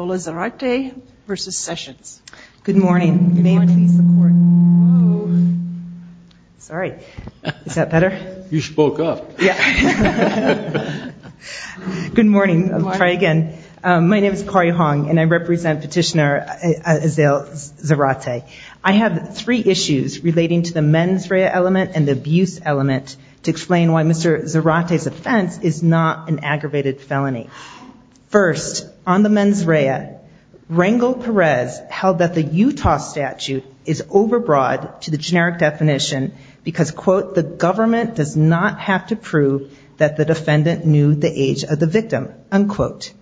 Good morning, my name is Corey Hong and I represent petitioner Azalee Zarate. I have three issues relating to the mens rea element and the abuse element to explain why Mr. Zarate's offense is not an aggravated felony. First, on the mens rea, Rangel Perez held that the Utah statute is over broad to the generic definition because, quote, the government does not have to prove that the defendant knew the age of the victim, unquote.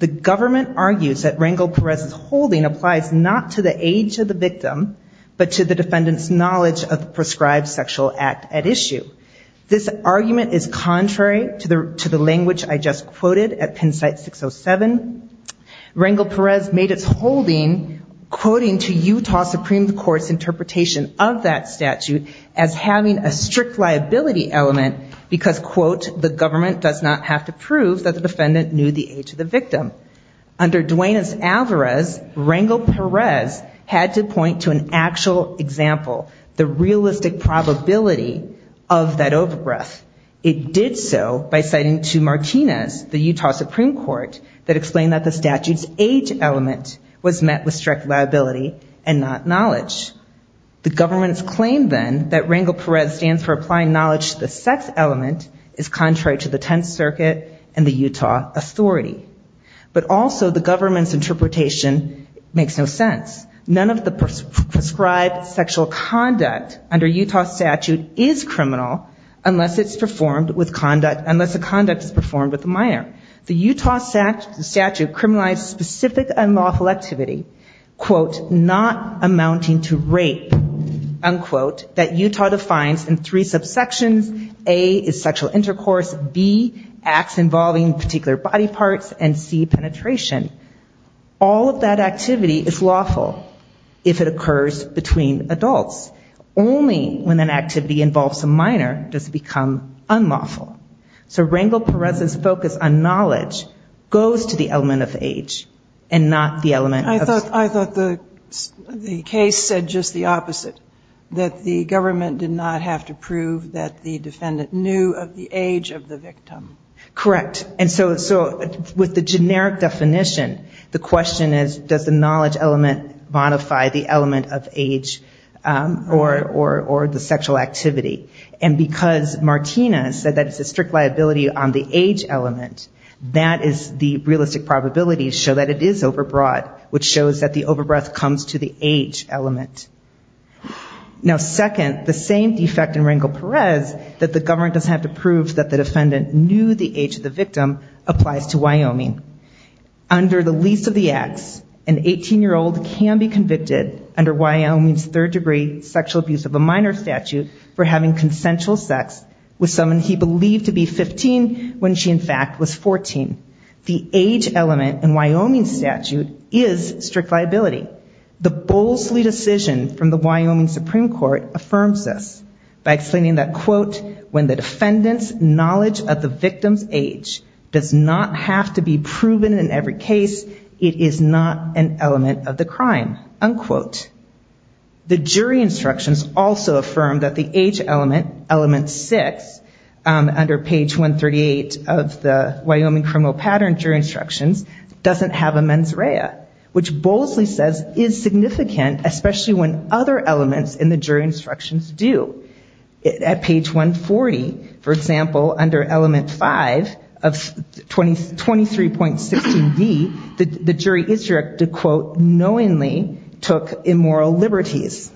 The government argues that Rangel Perez's holding applies not to the age of the victim, but to the defendant's knowledge of the prescribed sexual act at issue. This argument is contrary to the language I just quoted at Penn site 607. Rangel Perez made its holding, quoting to Utah Supreme Court's interpretation of that statute as having a strict liability element because, quote, the government does not have to prove that the defendant knew the age of the victim. Under Duane's Alvarez, Rangel Perez had to point to an actual example, the realistic probability of that over breath. It did so by citing to Martinez, the Utah Supreme Court, that explained that the statute's age element was met with strict liability and not knowledge. The government's claim, then, that Rangel Perez stands for applying knowledge to the sex element is contrary to the Tenth Circuit and the Utah authority. But also, the government's interpretation makes no sense. None of the prescribed sexual conduct under Utah's statute is criminal unless it's performed with conduct, unless the conduct is performed with a minor. The Utah statute criminalized specific unlawful activity, quote, not amounting to rape, unquote, that Utah defines in three subsections. A is sexual intercourse. B, acts involving particular body parts. And C, penetration. All of that activity is lawful if it occurs between adults. Only when an activity involves a minor does it become unlawful. So Rangel Perez's focus on knowledge goes to the element of age and not the element of- I thought the case said just the opposite, that the government did not have to prove that the defendant knew of the age of the victim. Correct. And so with the generic definition, the question is, does the knowledge element modify the element of age or the sexual activity? And because Martina said that it's a strict liability on the age element, that is the realistic probability to show that it is overbroad, which shows that the overbreath comes to the age element. Now second, the same defect in Rangel Perez that the government doesn't have to prove that the defendant knew the age of the victim applies to Wyoming. Under the least of the acts, an 18-year-old can be convicted under Wyoming's third degree sexual abuse of a minor statute for having consensual sex with someone he believed to be 15 when she in fact was 14. The age element in Wyoming's statute is strict liability. The boldly decision from the Wyoming Supreme Court affirms this by explaining that, quote, when the defendant's knowledge of the victim's age does not have to be proven in every case, it is not an element of the crime, unquote. The jury instructions also affirm that the age element, element six, under page 138 of the Wyoming criminal pattern jury instructions, doesn't have a mens rea, which boldly says is significant, especially when other elements in the jury instructions do. At page 140, for example, under element five of 23.16B, the jury instructed, quote, knowingly took immoral liberties.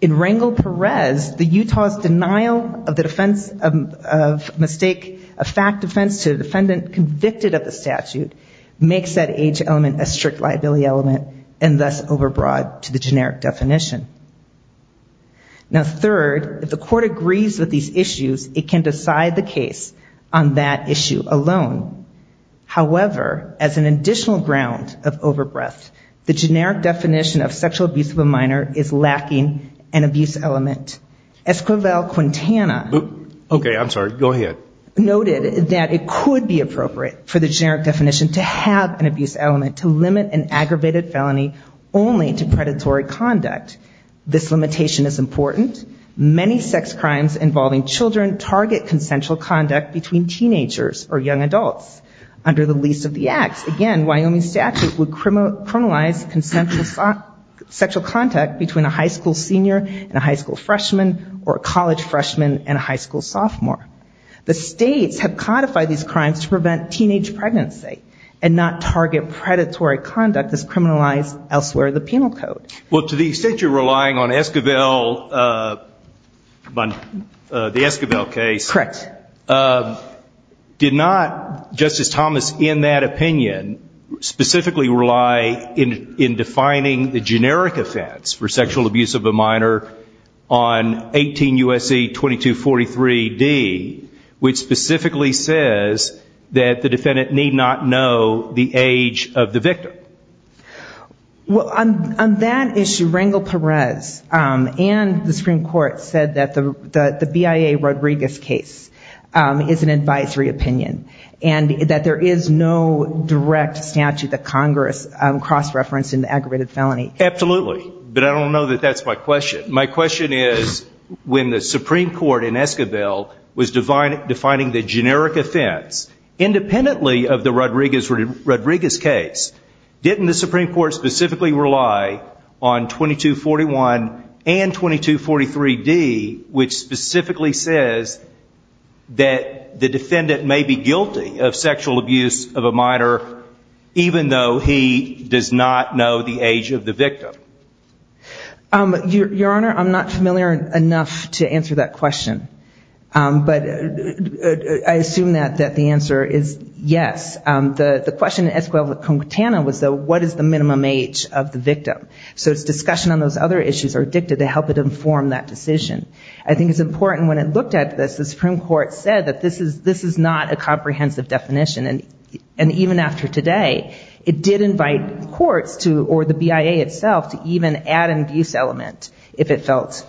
In Rangel Perez, the Utah's denial of the offense of mistake, a fact offense to the defendant convicted of the statute, makes that age element a strict liability element and thus overbroad to the generic definition. And third, if the court agrees with these issues, it can decide the case on that issue alone. However, as an additional ground of overbreadth, the generic definition of sexual abuse of a minor is lacking an abuse element. Esquivel-Quintana noted that it could be appropriate for the generic definition to have an abuse element to limit an aggravated felony only to predatory conduct. This limitation is important. Many sex crimes involving children target consensual conduct between teenagers or young adults. Under the lease of the acts, again, Wyoming statute would criminalize consensual sexual contact between a high school senior and a high school freshman or a college freshman and a high school sophomore. The states have codified these crimes to prevent teenage pregnancy and not target predatory conduct as criminalized elsewhere in the penal code. Well, to the extent you're relying on Esquivel, the Esquivel case, did not, Justice Thomas, in that opinion, specifically rely in defining the generic offense for sexual abuse of a minor on 18 U.S.C. 2243-D, which specifically says that the defendant need not know the age of the victim? Well, on that issue, Rangel Perez and the Supreme Court said that the BIA Rodriguez case is an advisory opinion and that there is no direct statute that Congress cross-referenced an aggravated felony. Absolutely. But I don't know that that's my question. My question is when the Supreme Court in Esquivel was defining the generic offense, independently of the Rodriguez case, didn't the Supreme Court specifically rely on 2241 and 2243-D, which specifically says that the defendant may be guilty of sexual abuse of a minor even though he does not know the age of the victim? Your Honor, I'm not familiar enough to answer that question. But I assume that the answer is yes. The question in Esquivel-Concantana was what is the minimum age of the victim. So it's discussion on those other issues or dicta to help it inform that decision. I think it's important when it looked at this, the Supreme Court said that this is not a comprehensive definition. And even after today, it did invite courts to, or the BIA itself, to even look at this. But I don't know that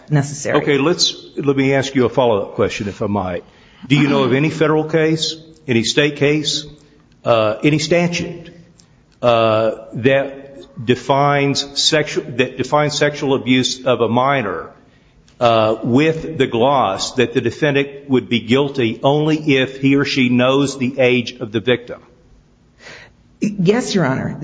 the Supreme Court did not even add an abuse element if it felt necessary. Okay. Let me ask you a follow-up question, if I might. Do you know of any federal case, any state case, any statute that defines sexual abuse of a minor with the gloss that the defendant would be guilty only if he or she knows the age of the victim? Yes, Your Honor.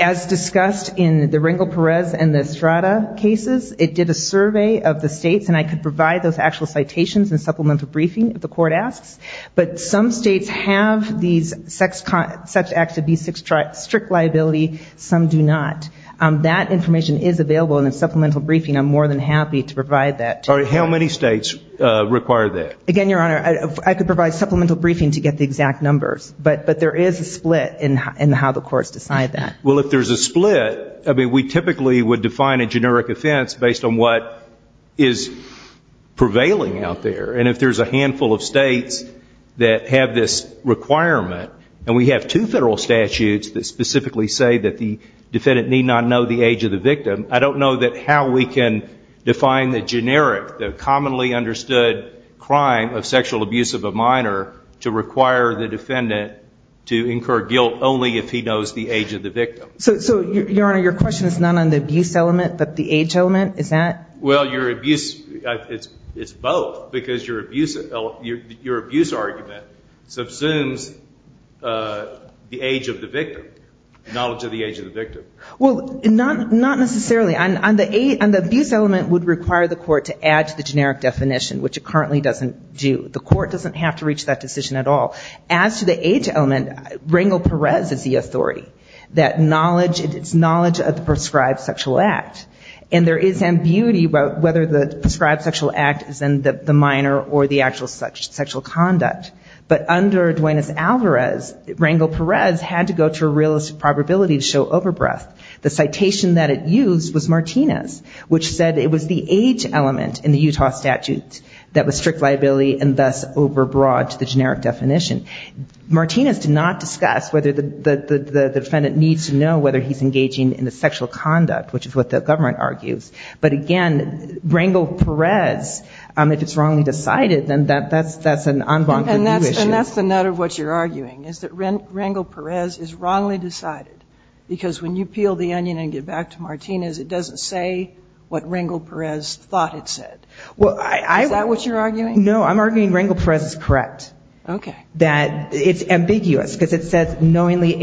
As discussed in the Rangel-Perez and the Estrada cases, it did a survey of the states and I could provide those actual citations and supplemental briefing if the court asks. But some states have these sex acts of B6 strict liability, some do not. That information is available in the supplemental briefing. I'm more than happy to provide that to you. All right. How many states require that? Again, Your Honor, I could provide supplemental briefing to get the exact numbers. But there is a split in how the courts decide that. Well, if there's a split, I mean, we typically would define a generic offense based on what is prevailing out there. And if there's a handful of states that have this requirement, and we have two federal statutes that specifically say that the defendant need not know the age of the victim, I don't know how we can define the generic offense. But I would say that the court would require the commonly understood crime of sexual abuse of a minor to require the defendant to incur guilt only if he knows the age of the victim. So, Your Honor, your question is not on the abuse element, but the age element, is that? Well, your abuse, it's both because your abuse argument subsumes the age of the victim, knowledge of the age of the victim. Well, not necessarily. On the abuse element, it would require the court to add to the generic definition, which it currently doesn't do. The court doesn't have to reach that decision at all. As to the age element, Rangel Perez is the authority, that knowledge, it's knowledge of the prescribed sexual act. And there is ambiguity about whether the prescribed sexual act is in the minor or the actual sexual conduct. But under Duenas-Alvarez, Rangel Perez had to go to a realistic probability to show overbreath. The citation that it used was Martinez, which said it was the age element in the Utah statute that was strict liability and thus overbroad to the generic definition. Martinez did not discuss whether the defendant needs to know whether he's engaging in the sexual conduct, which is what the government argues. But again, Rangel Perez, if it's wrongly decided, then that's an en banc. And that's the nut of what you're arguing, is that Rangel Perez is wrongly decided, because when you peel the onion and get back to Martinez, it doesn't say what Rangel Perez thought it said. Is that what you're arguing? No, I'm arguing Rangel Perez is correct. That it's ambiguous, because it says knowingly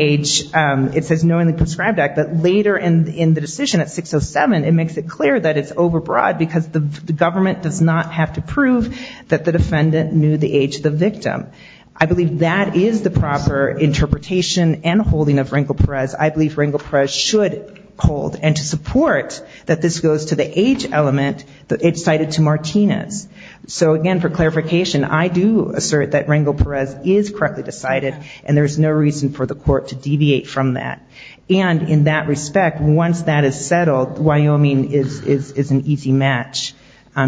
prescribed act, but later in the decision at 607, it makes it clear that it's overbroad, because the government does not have to prove that the defendant knew the age of the victim. I believe that is the proper interpretation and holding of Rangel Perez. I believe Rangel Perez should hold, and to support that this goes to the age element, that it's cited to Martinez. So again, for clarification, I do assert that Rangel Perez is correctly decided, and there's no reason for the court to deviate from that. And in that respect, once that is settled, Wyoming is an easy match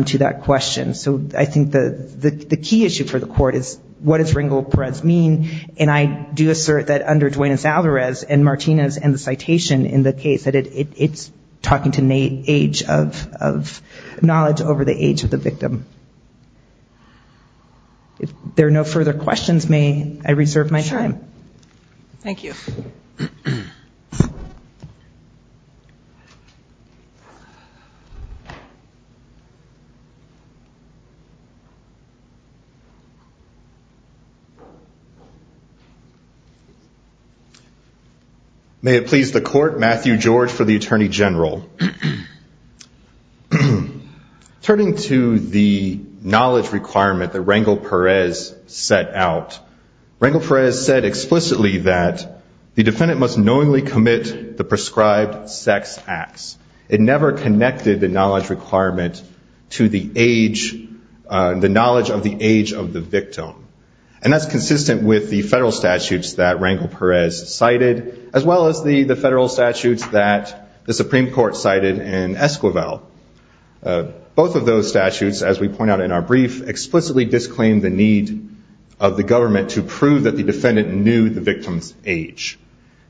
to that question. So I think the key issue for the court is what does Rangel Perez mean, and I do assert that under Duenas-Alvarez and Martinez and the citation in the case, that it's talking to an age of knowledge over the age of the victim. If there are no further questions, may I reserve my time? Thank you. May it please the court, Matthew George for the Attorney General. Turning to the knowledge requirement that Rangel Perez set out, Rangel Perez said explicitly that the defendant must knowingly commit the prescribed sex acts. It never connected the knowledge requirement to the knowledge of the age of the victim. And that's consistent with the federal statutes that Rangel Perez cited, as well as the federal statutes that the Supreme Court cited in Esquivel. Both of those statutes, as we point out in our brief, explicitly disclaimed the need of the government to prove that the defendant knew the victim's age.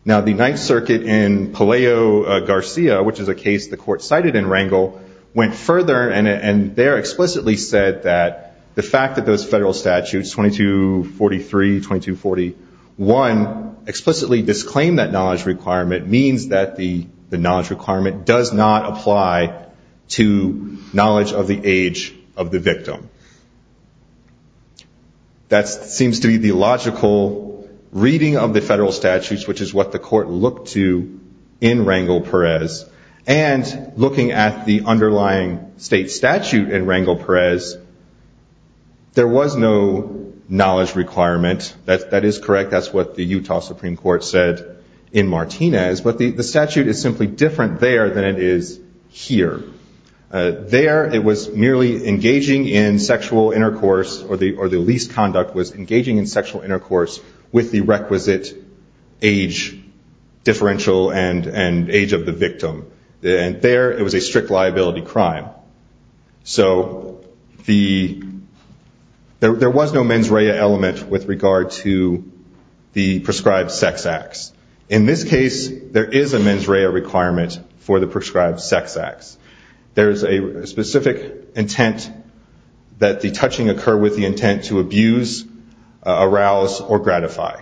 Now, the Ninth Circuit in Palaio Garcia, which is a case the court cited in Rangel, went further and there explicitly said that the fact that those federal statutes, 2243, 2241, explicitly disclaimed that knowledge requirement means that the knowledge requirement does not apply to knowledge of the age of the victim. That seems to be the logical reading of the federal statutes, which is what the court looked to in Rangel Perez. And looking at the underlying state statute in Rangel Perez, there was no knowledge requirement. That is correct. That's what the Utah Supreme Court said in Martinez. But the statute is simply different there than it is here. There, it was merely engaging in sexual intercourse, or the least conduct was engaging in sexual intercourse with the requisite age differential and age of the victim. And there, it was a strict liability crime. So there was no mens rea element with regard to the prescribed sex acts. In this case, there is a mens rea requirement for the prescribed sex acts. There is a specific intent that the touching occur with the intent to abuse, arouse, or gratify.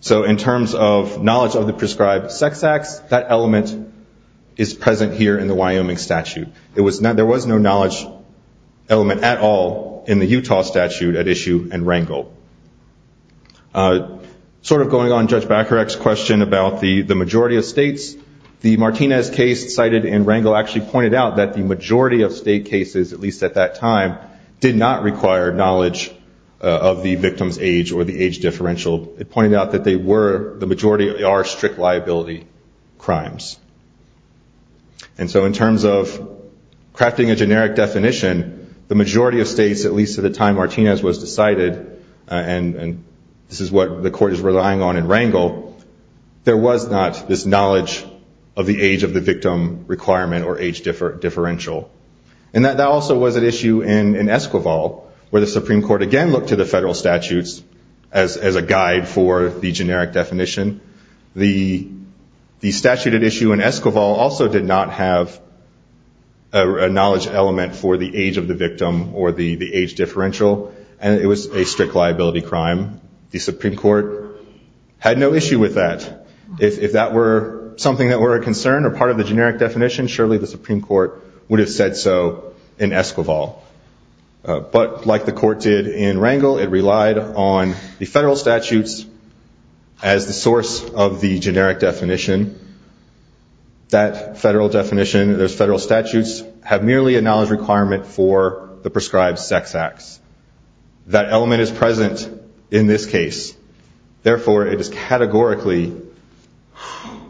So in terms of knowledge of the prescribed sex acts, that element is present here in the Wyoming statute. There was no knowledge element at all in the Utah statute at issue in Rangel. Sort of going on Judge Bakarek's question about the majority of states, the Martinez case cited in Rangel actually pointed out that the majority of state cases, at least at that time, did not require knowledge of the victim's age or the age differential. It pointed out that they were, the majority are, strict liability crimes. And so in terms of crafting a generic definition, the majority of states, at least at the time Martinez was decided, and this is what the court is relying on in Rangel, there was not this knowledge of the age of the victim requirement or age differential. And that also was at issue in Esquivel, where the Supreme Court again looked to the federal statutes as a guide for the generic definition. The statute at issue in Esquivel also did not have a knowledge element for the age of the victim or the age differential. And it was a strict liability crime. The Supreme Court had no issue with that. If that were something that were a concern or part of the generic definition, surely the Supreme Court would have said so in Esquivel. But like the court did in Rangel, it relied on the federal statutes as the source of the generic definition. That federal definition, those federal statutes, have merely a knowledge requirement for the prescribed sex acts. That element is present in this case. Therefore, it is categorically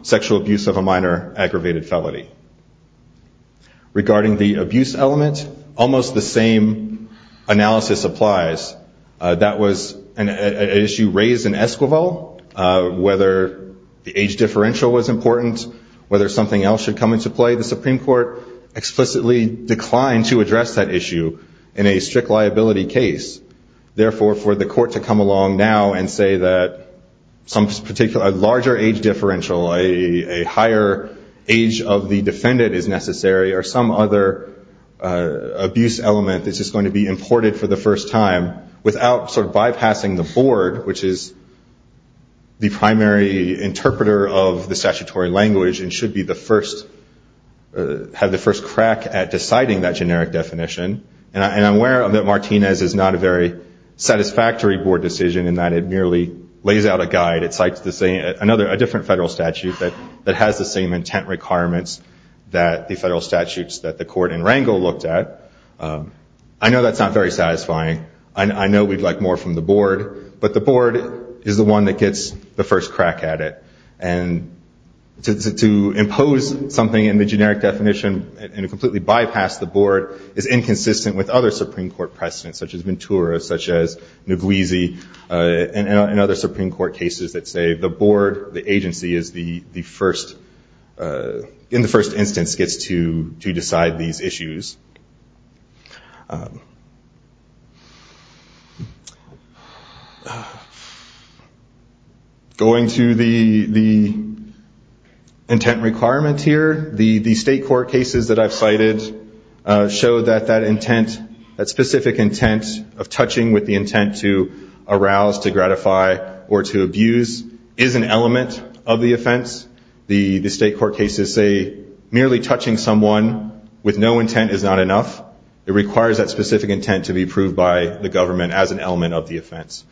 sexual abuse of a minor aggravated felony. Regarding the abuse element, almost the same analysis applies. That was an issue raised in Esquivel, whether the age differential was important, whether something else should come into play. The Supreme Court explicitly declined to address that issue in a strict liability case. Therefore, for the court to come along now and say that a larger age differential, a higher age of the defendant is necessary, or some other abuse element that's just going to be imported for the first time without bypassing the board, which is the primary interpreter of the statutory language and should have the first crack at deciding that generic definition. And I'm aware that Martinez is not a very satisfactory board decision in that it merely lays out a guide. It's like a different federal statute that has the same intent requirements that the federal statutes that the court in Rangel looked at. I know that's not very satisfying. I know we'd like more from the board. But the board is the one that gets the first crack at it. And to impose something in the generic definition and to completely bypass the board is inconsistent with other Supreme Court precedents, such as Ventura, such as Nguizi, and other Supreme Court cases that say the board, the agency, is the first, in the first instance, gets to decide these issues. Going to the intent requirement here, the state court cases that I've cited show that that intent, that specific intent of touching with the intent to arouse, to gratify, or to abuse is an element of the offense. The state court cases say merely touching someone with no intent is not enough. It requires that specific intent to be approved by the government as an element of the offense.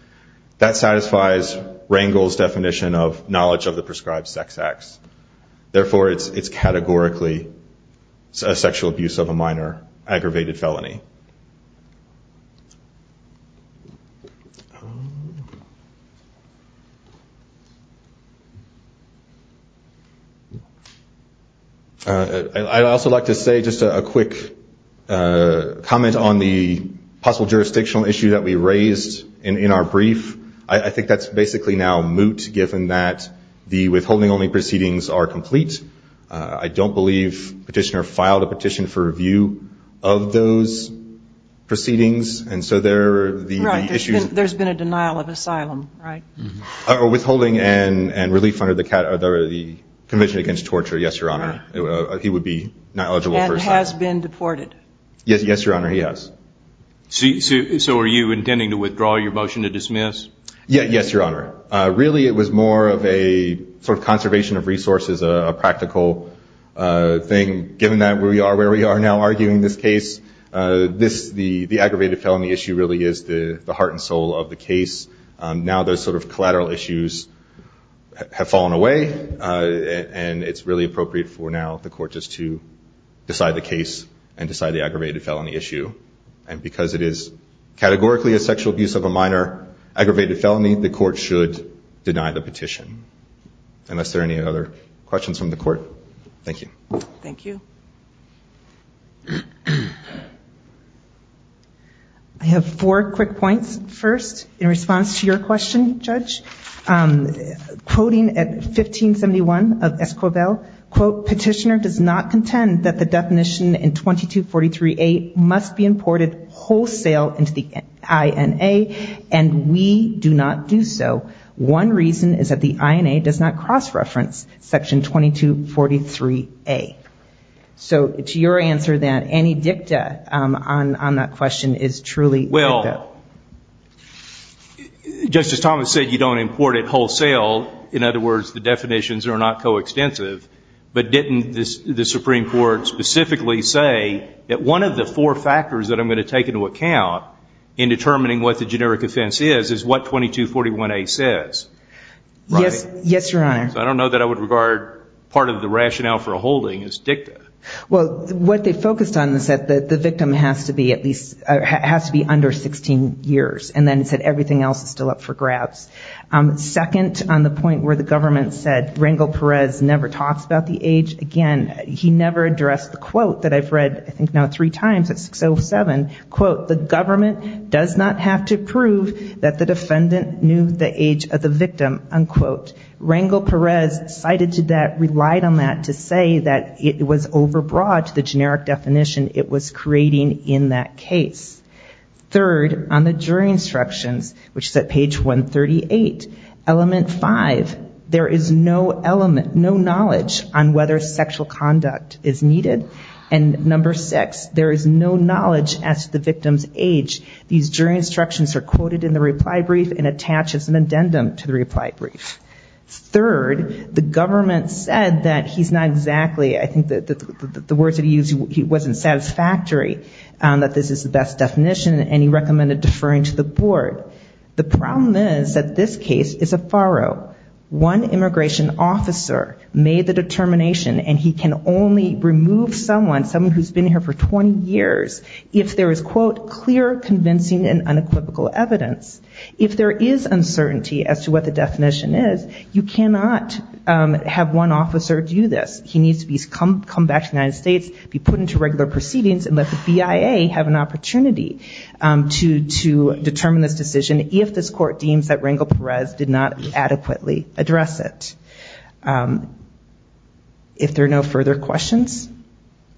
That satisfies Rangel's definition of knowledge of the prescribed sex acts. I'd also like to say just a quick comment on the possible jurisdictional issue that we raised in our brief. I think that's basically now moot, given that the withholding-only proceedings are complete. I don't believe Petitioner filed a petition for review of those proceedings. And so there are the issues. Right. There's been a denial of asylum, right? Withholding and relief under the Convention Against Torture, yes, Your Honor. He would be not eligible for asylum. And has been deported? Yes, Your Honor, he has. So are you intending to withdraw your motion to dismiss? Yes, Your Honor. Really, it was more of a sort of conservation of resources, a practical thing, given that we are where we are now arguing this case. The aggravated felony issue really is the heart and soul of the case. Now those sort of collateral issues have fallen away, and it's really appropriate for now the court just to decide the case and decide the aggravated felony issue. And because it is categorically a sexual abuse of a minor aggravated felony, the court should deny the petition. Unless there are any other questions from the court. Thank you. Thank you. I have four quick points. First, in response to your question, Judge, quoting at 1571 of Esquivel, quote, Petitioner does not contend that the definition in 2243A must be imported wholesale into the INA, and we do not do so. One reason is that the INA does not cross-reference Section 2243A. So to your answer, then, any dicta on that question is truly dicta. Well, Justice Thomas said you don't import it wholesale. In other words, the definitions are not coextensive. But didn't the Supreme Court specifically say that one of the four factors that I'm going to take into account in determining what the generic offense is is what 2241A says? Yes, Your Honor. So I don't know that I would regard part of the rationale for holding as dicta. Well, what they focused on is that the victim has to be under 16 years, and then said everything else is still up for grabs. Second, on the point where the government said Rangel Perez never talks about the age, again, he never addressed the quote that I've read I think now three times at 607, quote, the government does not have to prove that the defendant knew the age of the victim, unquote. Rangel Perez cited to that, relied on that to say that it was overbroad to the generic definition it was creating in that case. Third, on the jury instructions, which is at page 138, element five, there is no element, no knowledge on whether sexual conduct is needed. And number six, there is no knowledge as to the victim's age. These jury instructions are quoted in the reply brief and attached as an addendum to the reply brief. Third, the government said that he's not exactly, I think the words that he used, he wasn't satisfactory, that this is the best definition, and he recommended deferring to the board. The problem is that this case is a farrow. One immigration officer made the determination, and he can only remove someone, someone who's been here for 20 years, if there is, quote, clear, convincing and unequivocal evidence. If there is uncertainty as to what the definition is, you cannot have one officer do this. He needs to come back to the United States, be put into regular proceedings, and let the BIA have an opportunity to determine this decision if this court deems that Rangel Perez did not adequately address it. If there are no further questions?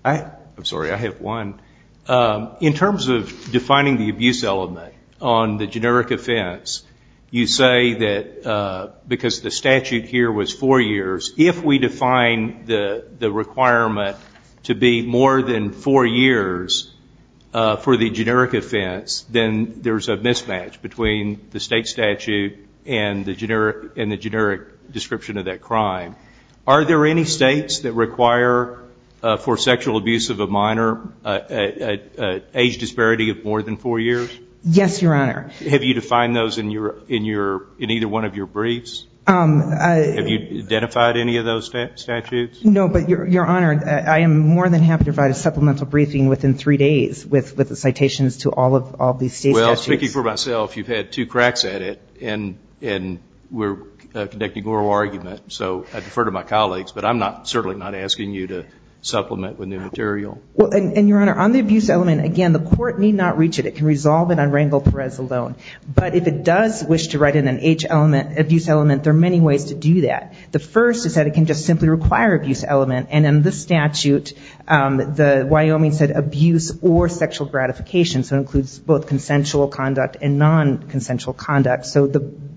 I'm sorry, I have one. In terms of defining the abuse element on the generic offense, you say that because the statute here was four years, if we define the requirement to be more than four years for the generic offense, then there's a mismatch between the state statute and the generic description of that crime. Are there any states that require for sexual abuse of a minor an age disparity of more than four years? Yes, Your Honor. Have you defined those in either one of your briefs? Have you identified any of those statutes? No, but Your Honor, I am more than happy to provide a supplemental briefing within three days with the citations to all of these state statutes. Well, speaking for myself, you've had two cracks at it, and we're conducting oral argument, so I defer to my colleagues, but I'm certainly not asking you to supplement with new material. Well, and Your Honor, on the abuse element, again, the court need not reach it. It can resolve it on Rangel Perez alone. But if it does wish to write in an age element, abuse element, there are many ways to do that. The first is that it can just simply require abuse element, and in this statute, the Wyoming said abuse or sexual gratification. So it includes both consensual conduct and non-consensual conduct. So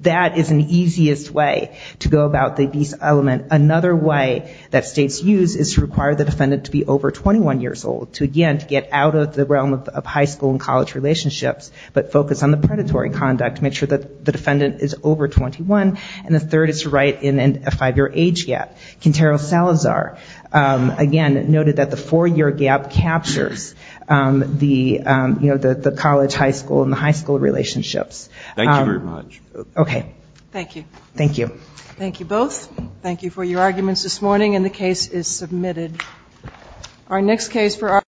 that is an easiest way to go about the abuse element. Another way that states use is to require the defendant to be over 21 years old to, again, to get out of the realm of high school and college relationships, but focus on the predatory conduct to make sure that the defendant is over 21. And the third is to write in a five-year age gap. Quintero Salazar, again, noted that the four-year gap captures the college, high school, and the high school relationships. Thank you very much. Okay. Thank you. Thank you. Thank you both. Thank you for your arguments this morning, and the case is submitted.